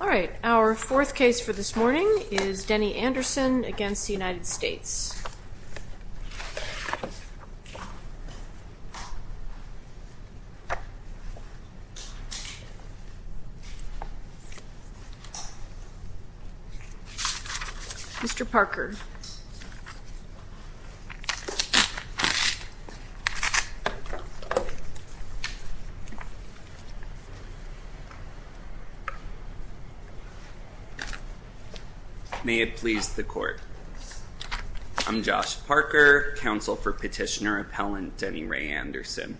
All right, our fourth case for this morning is Denny Anderson v. United States. Mr. Parker. May it please the court. I'm Josh Parker, counsel for petitioner appellant Denny Ray Anderson.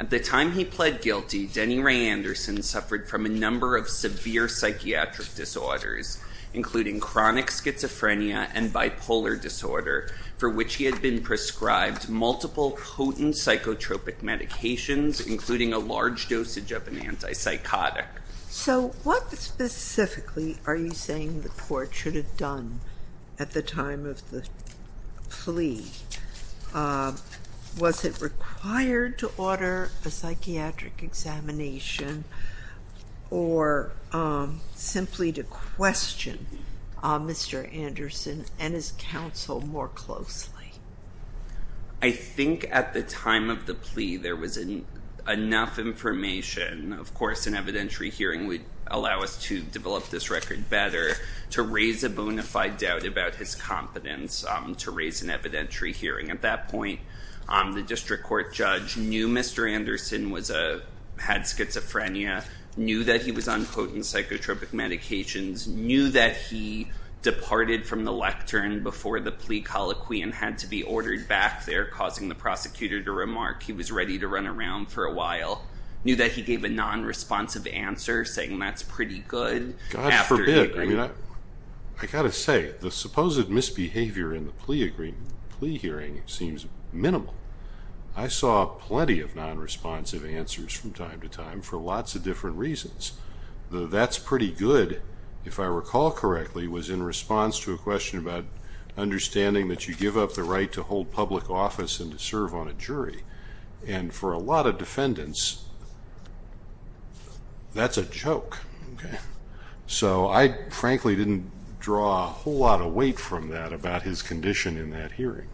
At the time he pled guilty, Denny Ray Anderson suffered from a number of severe psychiatric disorders, including chronic schizophrenia and bipolar disorder, for which he had been a large dosage of an antipsychotic. So what specifically are you saying the court should have done at the time of the plea? Was it required to order a psychiatric examination or simply to question Mr. Anderson and his counsel more closely? I think at the time of the plea, there was enough information. Of course, an evidentiary hearing would allow us to develop this record better, to raise a bona fide doubt about his competence, to raise an evidentiary hearing. At that point, the district court judge knew Mr. Anderson had schizophrenia, knew that he was on potent psychotropic medications, knew that he departed from the lectern before the plea colloquy and had to be ordered back there, causing the prosecutor to remark he was ready to run around for a while, knew that he gave a non-responsive answer, saying that's pretty good. God forbid. I got to say, the supposed misbehavior in the plea hearing seems minimal. I saw plenty of non-responsive answers from time to time for lots of different reasons. The that's pretty good, if I recall correctly, was in response to a question about understanding that you give up the right to hold public office and to serve on a jury. For a lot of defendants, that's a joke. I frankly didn't draw a whole lot of weight from that about his condition in that hearing.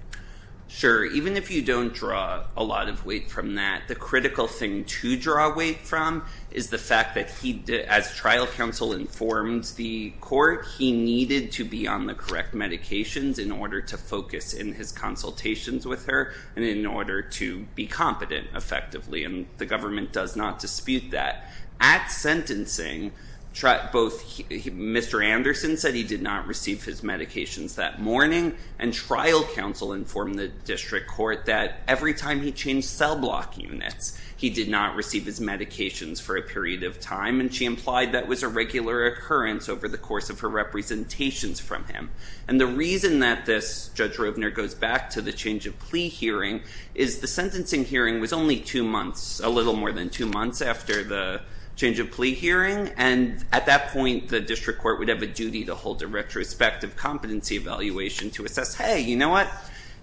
Sure. Even if you don't draw a lot of weight from that, the critical thing to draw weight from is the fact that as trial counsel informs the court, he needed to be on the correct medications in order to focus in his consultations with her and in order to be competent effectively. The government does not dispute that. At sentencing, Mr. Anderson said he did not receive his medications that morning. Trial counsel informed the district court that every time he changed cell block units, he did not receive his medications for a period of time. She implied that was a regular occurrence over the course of her representations from him. The reason that this, Judge Rovner goes back to the change of plea hearing, is the sentencing hearing was only two months, a little more than two months after the change of plea hearing. At that point, the district court would have a duty to hold a retrospective competency evaluation to assess, hey, you know what?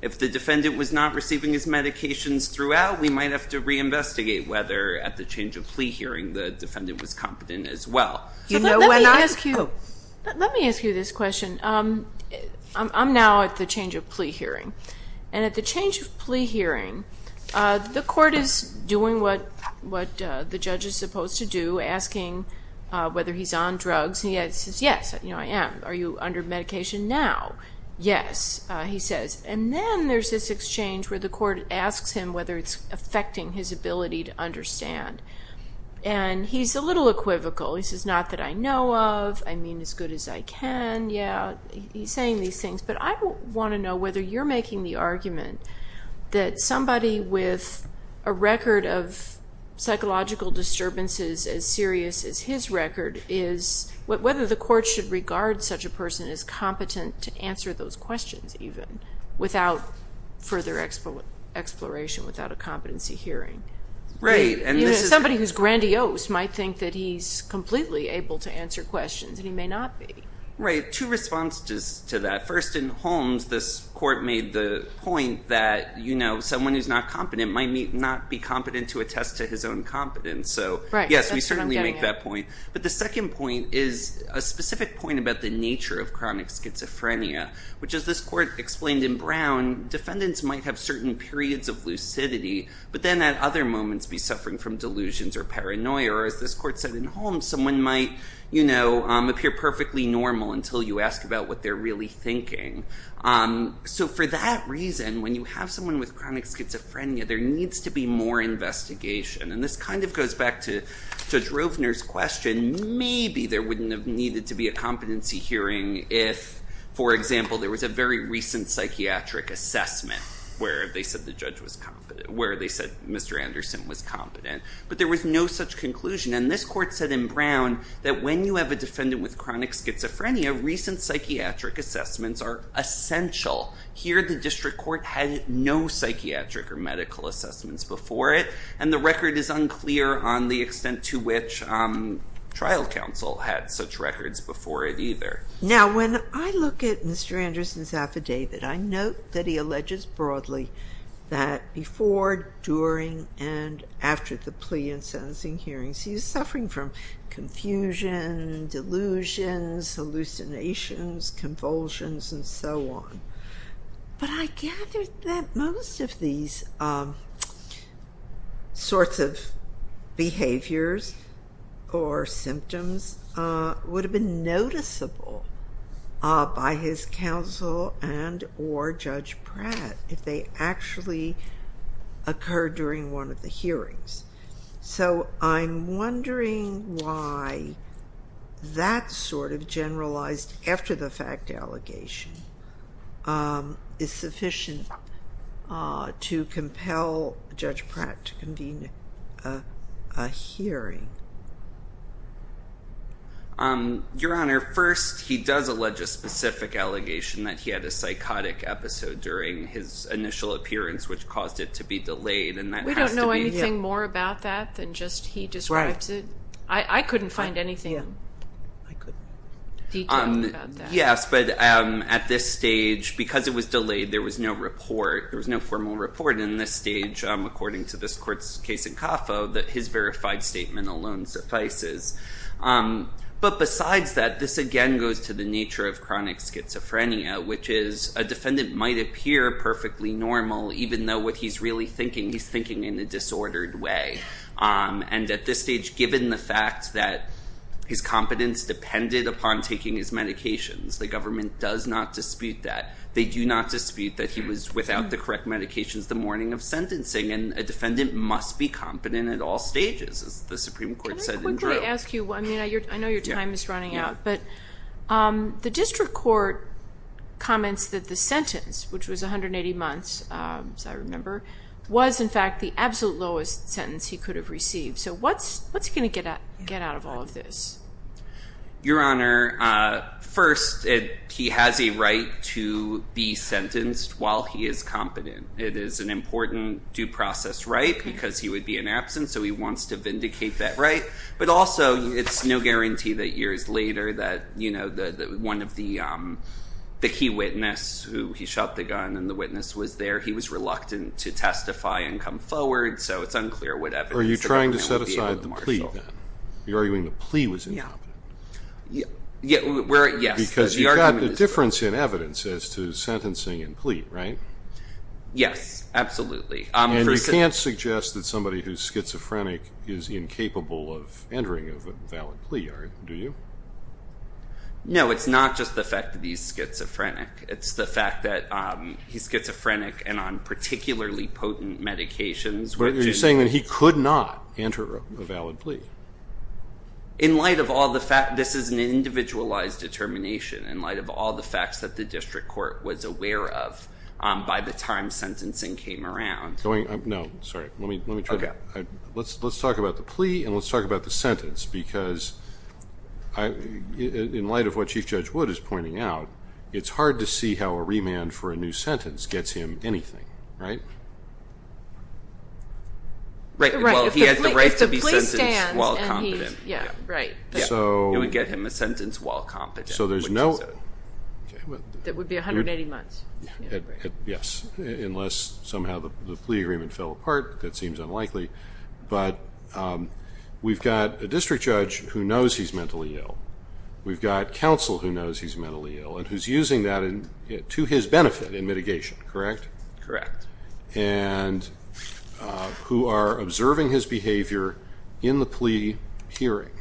If the defendant was not receiving his medications throughout, we might have to reinvestigate whether at the change of plea hearing the court is doing what the judge is supposed to do, asking whether he's on drugs. He says, yes, I am. Are you under medication now? Yes, he says. Then there's this exchange where the court asks him whether it's affecting his ability to understand. He's a little equivocal. He says, not that I know of. I mean as good as I can. He's saying these things. I want to know whether you're making the argument that somebody with a record of psychological disturbances as serious as his record, whether the court should regard such a person as competent to answer those questions even without further exploration, without a competency hearing. Right. Somebody who's grandiose might think that he's completely able to answer questions and he may not be. Right. Two responses to that. First, in Holmes, this court made the point that someone who's not competent might not be competent to attest to his own competence. Yes, we certainly make that point. The second point is a specific point about the nature of chronic schizophrenia, which as this court explained in Brown, defendants might have certain periods of lucidity, but then at other moments be suffering from delusions or paranoia. Or as this court said in Holmes, someone might appear perfectly normal until you ask about what they're really thinking. So for that reason, when you have someone with chronic schizophrenia, there needs to be more investigation. And this kind of goes back to Judge Rovner's question. Maybe there wouldn't have needed to be a competency hearing if, for example, there was a very recent psychiatric assessment where they said the judge was competent, where they said Mr. Anderson was competent. But there was no such conclusion. And this court said in Brown that when you have a defendant with chronic schizophrenia, recent psychiatric assessments are essential. Here, the district court had no psychiatric or medical assessments before it. And the record is unclear on the extent to which trial counsel had such records before it either. Now, when I look at Mr. Anderson's affidavit, I note that he alleges broadly that before, during, and after the plea and sentencing hearings, he was suffering from confusion, delusions, hallucinations, convulsions, and so on. But I gather that most of these sorts of behaviors or symptoms would have been noticeable by his counsel and or Judge Pratt if they actually occurred during one of the hearings. So I'm wondering why that sort of a hearing? Your Honor, first, he does allege a specific allegation that he had a psychotic episode during his initial appearance, which caused it to be delayed. And that has to be... We don't know anything more about that than just he describes it. I couldn't find anything detailed about that. Yes, but at this stage, because it was delayed, there was no report. There was no formal report. And this stage, according to this court's case in CAFA, that his verified statement alone suffices. But besides that, this again goes to the nature of chronic schizophrenia, which is a defendant might appear perfectly normal, even though what he's really thinking, he's thinking in a disordered way. And at this stage, given the fact that his competence depended upon taking his medications, the government does not dispute that. They do not dispute that he was, without the correct medications, the morning of sentencing. And a defendant must be competent at all stages, as the Supreme Court said in droves. Can I quickly ask you, I know your time is running out, but the district court comments that the sentence, which was 180 months, as I remember, was in fact the absolute lowest sentence he could have received. So what's he going to get out of all of this? Your Honor, first, he has a right to be sentenced while he is competent. It is an important due process right, because he would be in absence, so he wants to vindicate that right. But also, it's no guarantee that years later, that one of the key witness, who he shot the gun and the witness was there, he was reluctant to testify and come forward. So it's unclear then. You're arguing the plea was incompetent. Yes. Because you've got the difference in evidence as to sentencing and plea, right? Yes, absolutely. And you can't suggest that somebody who's schizophrenic is incapable of entering a valid plea, do you? No, it's not just the fact that he's schizophrenic. It's the fact that he's schizophrenic and on particularly potent medications. Are you saying that he could not enter a valid plea? In light of all the facts, this is an individualized determination, in light of all the facts that the district court was aware of by the time sentencing came around. No, sorry, let's talk about the plea and let's talk about the sentence, because in light of what Chief Judge Wood is pointing out, it's hard to see how a remand for a new sentence gets him anything, right? Right, well, he has the right to be sentenced while competent. You would get him a sentence while competent, would you say? That would be 180 months. Yes, unless somehow the plea agreement fell apart, that seems unlikely. But we've got a district judge who knows he's mentally ill and who's using that to his benefit in mitigation, correct? Correct. And who are observing his behavior in the plea hearing.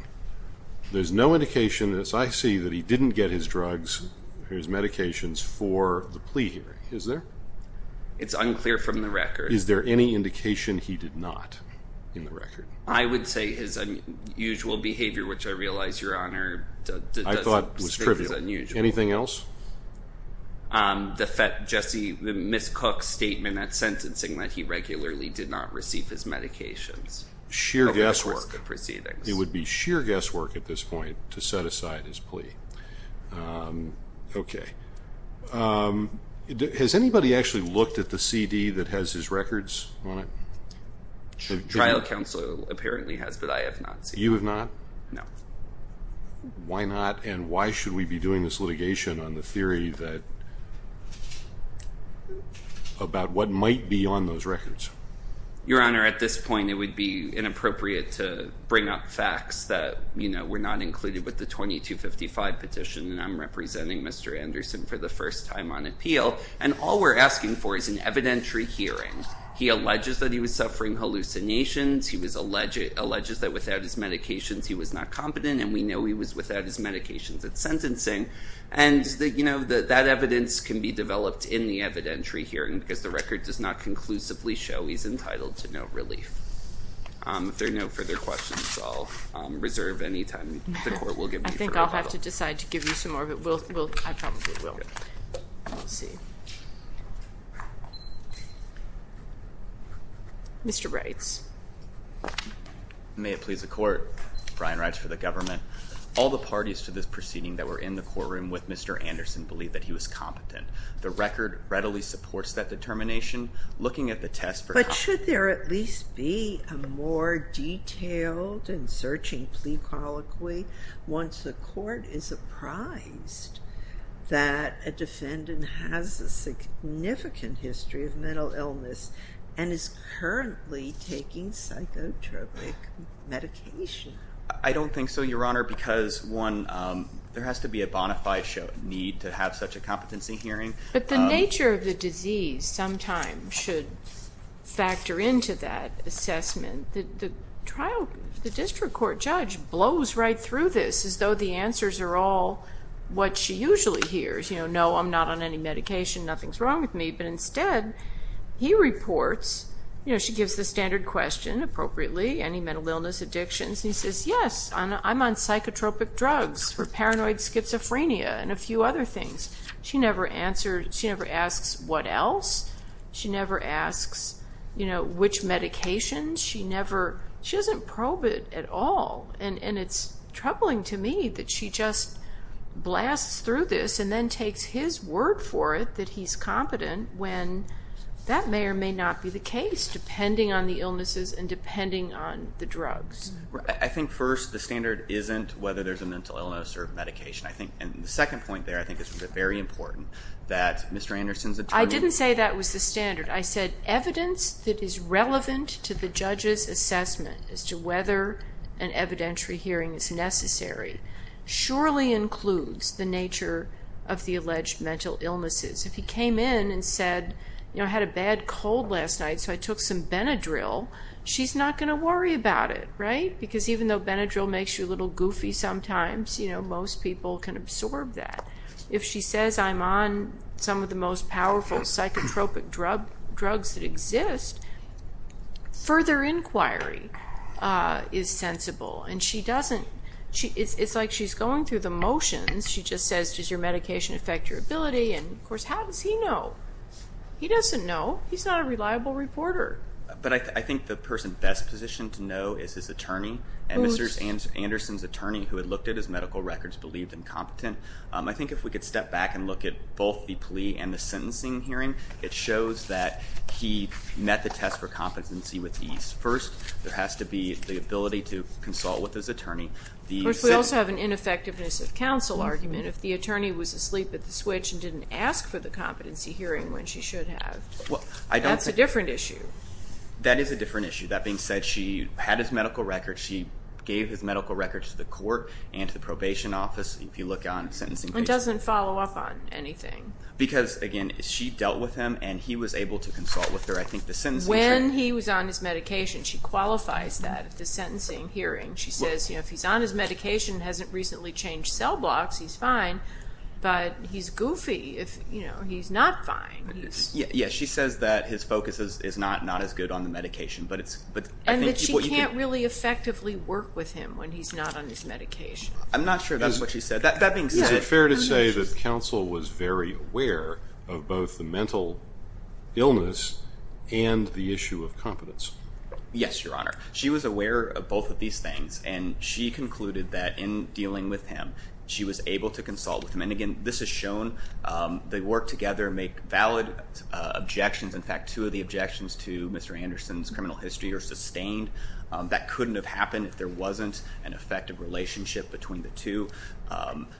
There's no indication, as I see, that he didn't get his drugs, his medications for the plea hearing, is there? It's unclear from the record. Is there any indication he did not, in the record? I would say his unusual behavior, which I realize, Your Honor, I thought was trivial. Anything else? The Miss Cook statement at sentencing that he regularly did not receive his medications. It would be sheer guesswork at this point to set aside his plea. Okay. Has anybody actually looked at the CD that has his records on it? The trial counsel apparently has, but I have not seen it. You have not? No. Why not, and why should we be doing this litigation on the theory about what might be on those records? Your Honor, at this point it would be inappropriate to bring up facts that were not included with the 2255 petition, and I'm representing Mr. Anderson for the first time on appeal, and all we're asking for is an evidentiary hearing. He alleges that he was suffering hallucinations. He alleges that without his medications he was not competent, and we know he was without his medications at sentencing, and that evidence can be developed in the evidentiary hearing, because the record does not conclusively show he's entitled to no relief. If there are no further questions, I'll reserve any time the court has. Mr. Reitz. May it please the court. Brian Reitz for the government. All the parties to this proceeding that were in the courtroom with Mr. Anderson believe that he was competent. The record readily supports that determination. Looking at the test for- But should there at least be a more detailed and searching plea colloquy once the court is apprised? That a defendant has a significant history of mental illness and is currently taking psychotropic medication. I don't think so, Your Honor, because one, there has to be a bona fide need to have such a competency hearing. But the nature of the disease sometimes should factor into that assessment. The district court judge blows right through this as though the answers are all what she usually hears. No, I'm not on any medication, nothing's wrong with me. But instead, he reports, she gives the standard question appropriately, any mental illness, addictions, and he says, yes, I'm on psychotropic drugs for paranoid schizophrenia and a few other things. She never asks what else. She never asks which medication. She doesn't probe it at all. It's troubling to me that she just blasts through this and then takes his word for it that he's competent when that may or may not be the case, depending on the illnesses and depending on the drugs. I think first, the standard isn't whether there's a mental illness or medication. The second point there I think is very important, that Mr. Anderson's attorney- I didn't say that was the standard. I said evidence that the judge's assessment as to whether an evidentiary hearing is necessary surely includes the nature of the alleged mental illnesses. If he came in and said, I had a bad cold last night so I took some Benadryl, she's not going to worry about it, right? Because even though Benadryl makes you a little goofy sometimes, most people can absorb that. If she says, I'm on some of the most powerful psychotropic drugs that exist, further inquiry is sensible. It's like she's going through the motions. She just says, does your medication affect your ability? Of course, how does he know? He doesn't know. He's not a reliable reporter. I think the person best positioned to know is his attorney and Mr. Anderson's attorney who had looked at his medical records believed incompetent. I think if we could step back and look at both the plea and the sentencing hearing, it shows that he met the test for competency with ease. First, there has to be the ability to consult with his attorney. Of course, we also have an ineffectiveness of counsel argument. If the attorney was asleep at the switch and didn't ask for the competency hearing when she should have, that's a different issue. That is a different issue. That being said, she had his medical records. She gave his medical records to the court and to the probation office if you look on sentencing cases. It doesn't follow up on anything. Because, again, she dealt with him and he was able to consult with her. I think the sentencing hearing... When he was on his medication, she qualifies that at the sentencing hearing. She says if he's on his medication and hasn't recently changed cell blocks, he's fine, but he's goofy if he's not fine. She says that his focus is not as good on the medication. And that she can't really effectively work with him when he's not on his medication. I'm not sure that's what she said. That being said... Is it fair to say that counsel was very aware of both the mental illness and the issue of competence? Yes, your honor. She was aware of both of these things and she concluded that in dealing with him, she was able to consult with him. And again, this has shown they work together and make valid objections. In fact, two of the objections to Mr. Anderson's criminal history are sustained. That couldn't have happened if there wasn't an effective relationship between the two.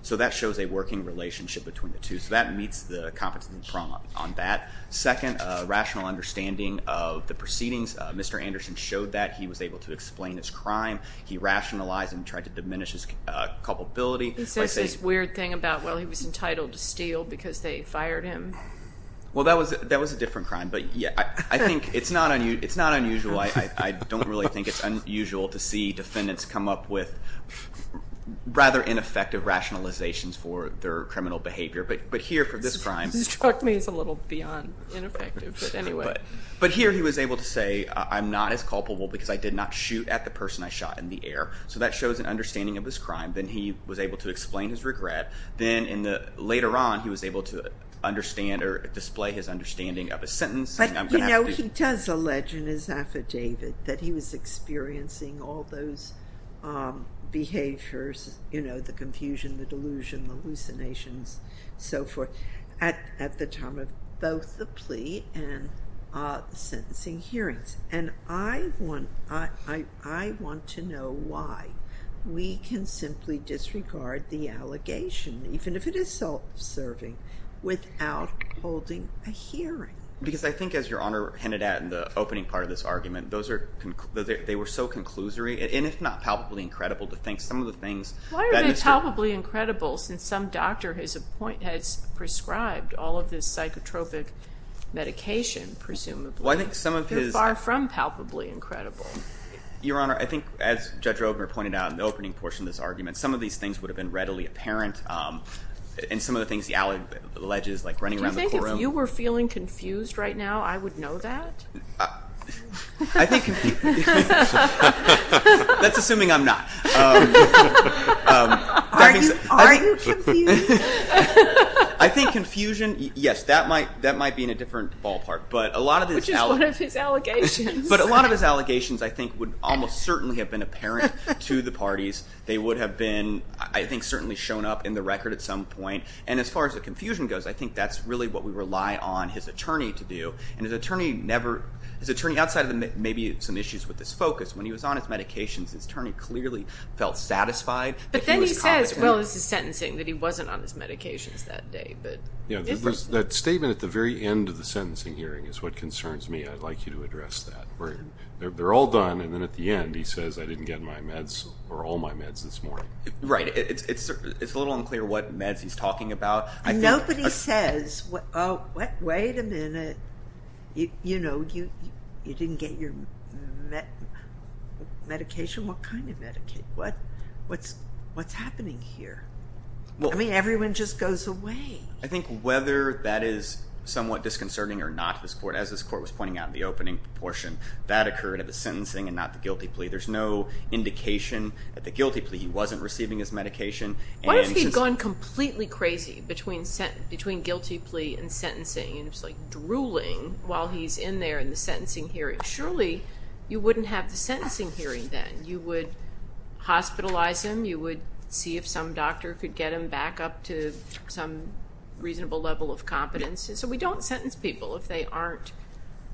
So that shows a working relationship between the two. So that meets the competence and prompt on that. Second, a rational understanding of the proceedings. Mr. Anderson showed that he was able to explain his crime. He rationalized and tried to diminish his culpability. He says this weird thing about, well, he was entitled to steal because they fired him. Well, that was a different crime. But yeah, I think it's not unusual. I don't really think it's unusual to see defendants come up with rather ineffective rationalizations for their criminal behavior. But here for this crime... This struck me as a little beyond ineffective, but anyway... But here he was able to say, I'm not as culpable because I did not shoot at the person I shot in the air. So that shows an understanding of this crime. Then he was able to explain his regret. Then later on, he was able to understand or display his understanding of his sentence. But you know, he does allege in his affidavit that he was experiencing all those behaviors, you know, the confusion, the delusion, the hallucinations, so forth, at the time of both the plea and sentencing hearings. And I want to know why we can simply disregard the allegation, even if it is self-serving, without holding a hearing. Because I think, as Your Honor hinted at in the opening part of this argument, they were so conclusory, and if not palpably incredible, to think some of the things that Mr. Why are they palpably incredible, since some doctor has prescribed all of this psychotropic medication, presumably? They're far from palpably incredible. Your Honor, I think, as Judge Roedmer pointed out in the opening portion of this argument, some of these things would have been readily apparent. And some of the things the allegate alleges, like running around the courtroom... Do you think if you were feeling confused right now, I would know that? I think... That's assuming I'm not. Are you confused? I think confusion, yes, that might be in a different ballpark. Which is one of his allegations. But a lot of his allegations, I think, would almost certainly have been apparent to the parties. They would have been, I think, certainly shown up in the record at some point. And as far as the confusion goes, I think that's really what we rely on his attorney to do. And his attorney never... His attorney, outside of maybe some issues with his focus, when he was on his medications, his attorney clearly felt satisfied that he was competent. But then he says, well, this is sentencing, that he wasn't on his medications that day. That statement at the very end of the sentencing hearing is what concerns me. I'd like you to address that. They're all done, and then at the end, he says, I didn't get my meds or all my meds this morning. Right. It's a little unclear what meds he's talking about. And nobody says, wait a minute, you know, you didn't get your medication? What kind of medication? What's happening here? I mean, everyone just goes away. I think whether that is somewhat disconcerting or not to this court, as this court was pointing out in the opening portion, that occurred at the sentencing and not the guilty plea. There's no indication at the guilty plea he wasn't receiving his medication. What if he'd gone completely crazy between guilty plea and sentencing and was like drooling while he's in there in the sentencing hearing? Surely you wouldn't have the sentencing hearing then. You would hospitalize him. You would see if some doctor could get him back up to some reasonable level of competence. So we don't sentence people if they aren't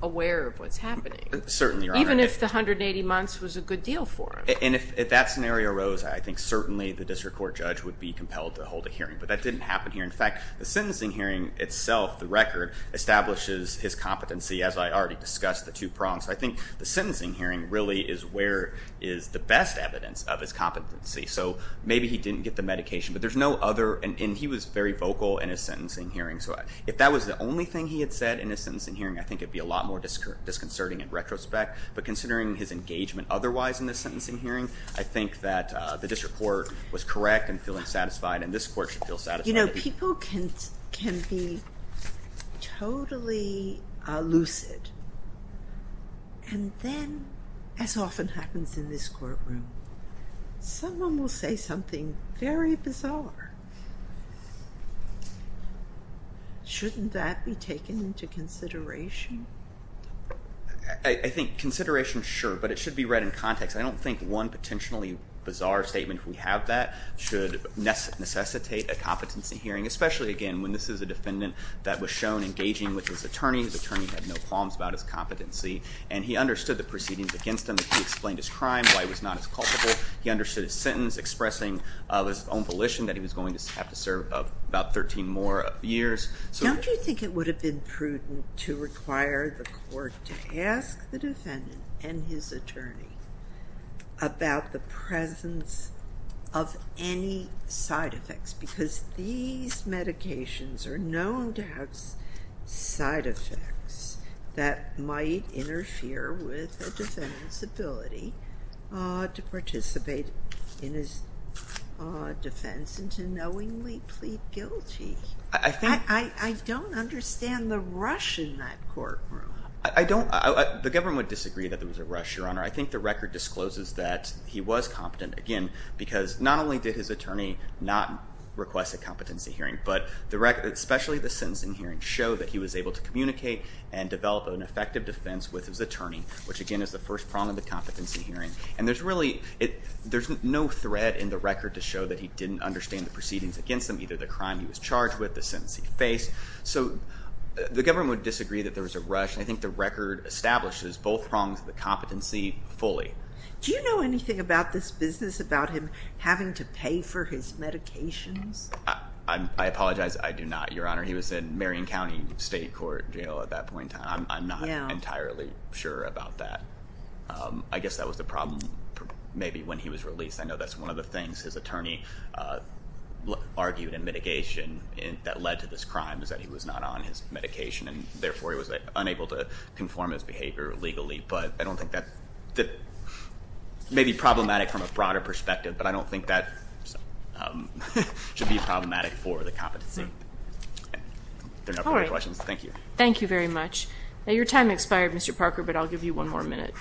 aware of what's happening. Certainly, Your Honor. Even if the 180 months was a good deal for him. And if that scenario arose, I think certainly the district court judge would be compelled to hold a hearing. But that didn't happen here. In fact, the sentencing hearing itself, the record, establishes his competency, as I already discussed, the two prongs. I think the sentencing hearing really is where is the best evidence of his competency. So maybe he didn't get the medication. But there's no other. And he was very vocal in his sentencing hearing. So if that was the only thing he had said in his sentencing hearing, I think it would be a lot more disconcerting in retrospect. But considering his engagement otherwise in the sentencing hearing, I think that the district court was correct in feeling satisfied. And this court should feel satisfied. You know, people can be totally lucid. And then, as often happens in this courtroom, someone will say something very bizarre. Shouldn't that be taken into consideration? I think consideration, sure. But it should be read in context. I don't think one potentially bizarre statement, if we have that, should necessitate a competency hearing. Especially, again, when this is a defendant that was shown engaging with his attorney. His attorney had no qualms about his competency. And he understood the proceedings against him. He explained his crime, why he was not as culpable. He understood his sentence, expressing his own volition that he was going to have to serve about 13 more years. Don't you think it would have been prudent to require the court to ask the defendant and his attorney about the presence of any side effects? Because these medications are I don't understand the rush in that courtroom. The government would disagree that there was a rush, Your Honor. I think the record discloses that he was competent. Again, because not only did his attorney not request a competency hearing, but especially the sentencing hearing showed that he was able to communicate and develop an effective defense with his attorney, which, again, is the first prong of the competency hearing. And there's really no thread in the record to show that he didn't understand the proceedings against him, either the crime he was charged with, the sentence he faced. So the government would disagree that there was a rush. And I think the record establishes both prongs of the competency fully. Do you know anything about this business, about him having to pay for his medications? I apologize. I do not, Your Honor. He was in Marion County State Court Jail at that point in time. I'm not entirely sure about that. I guess that was the problem maybe when he was released. I know that's one of the things his attorney argued in mitigation that led to this crime is that he was not on his medication and therefore he was unable to conform his behavior legally. But I don't think that may be problematic from a broader perspective. But I don't think that should be problematic for the competency. All right. Thank you. Thank you very much. Now, your time expired, Mr. Parker, but I'll give you one more minute.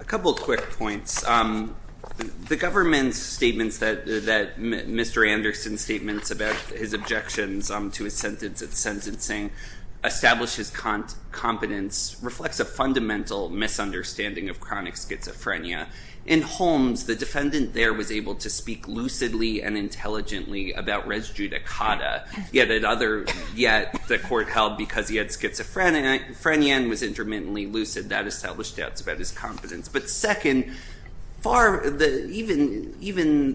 A couple of quick points. The government's statements that Mr. Anderson's statements about his objections to his sentence at sentencing establish his competence reflects a fundamental misunderstanding of chronic schizophrenia. In Holmes, the defendant there was able to speak lucidly and intelligently about res judicata, yet the court held because he had schizophrenia and was intermittently lucid. That established doubts about his competence. But second, even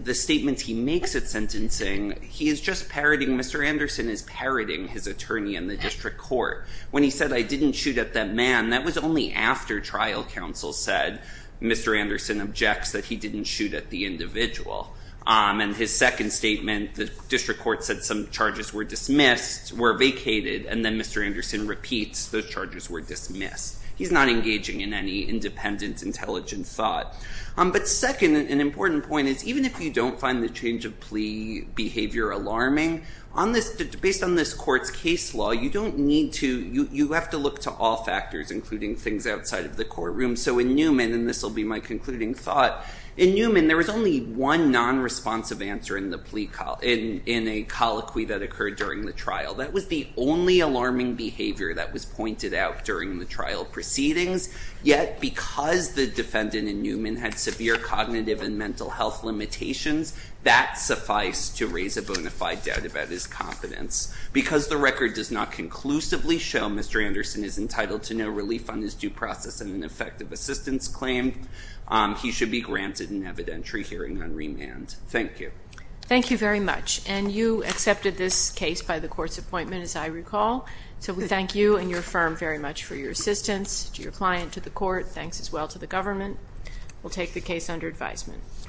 the statements he makes at sentencing, he is just parroting, Mr. Anderson is parroting his attorney in the district court. When he said, I didn't shoot at that man, that was only after trial counsel said, Mr. Anderson objects that he didn't shoot at the individual. And his second statement, the district court said some charges were dismissed, were vacated, and then Mr. Anderson repeats those charges were dismissed. He's not engaging in any independent, intelligent thought. But second, an important point is even if you don't find the change of plea behavior alarming, based on this court's case law, you don't need to, you have to look to all factors, including things outside of the courtroom. So in Newman, and this will be my concluding thought, in Newman there was only one non-responsive answer in a colloquy that occurred during the trial. That was the only alarming behavior that was pointed out during the trial proceedings. Yet because the defendant in Newman had severe cognitive and mental health limitations, that sufficed to raise a bona fide doubt about his competence. Because the record does not conclusively show Mr. Anderson is entitled to no relief on his due process and an effective assistance claim, he should be granted an evidentiary hearing on remand. Thank you. Thank you very much. And you accepted this case by the court's appointment, as I recall. So we thank you and your firm very much for your assistance. To your client, to the court, thanks as well to the government. We'll take the case under advisement.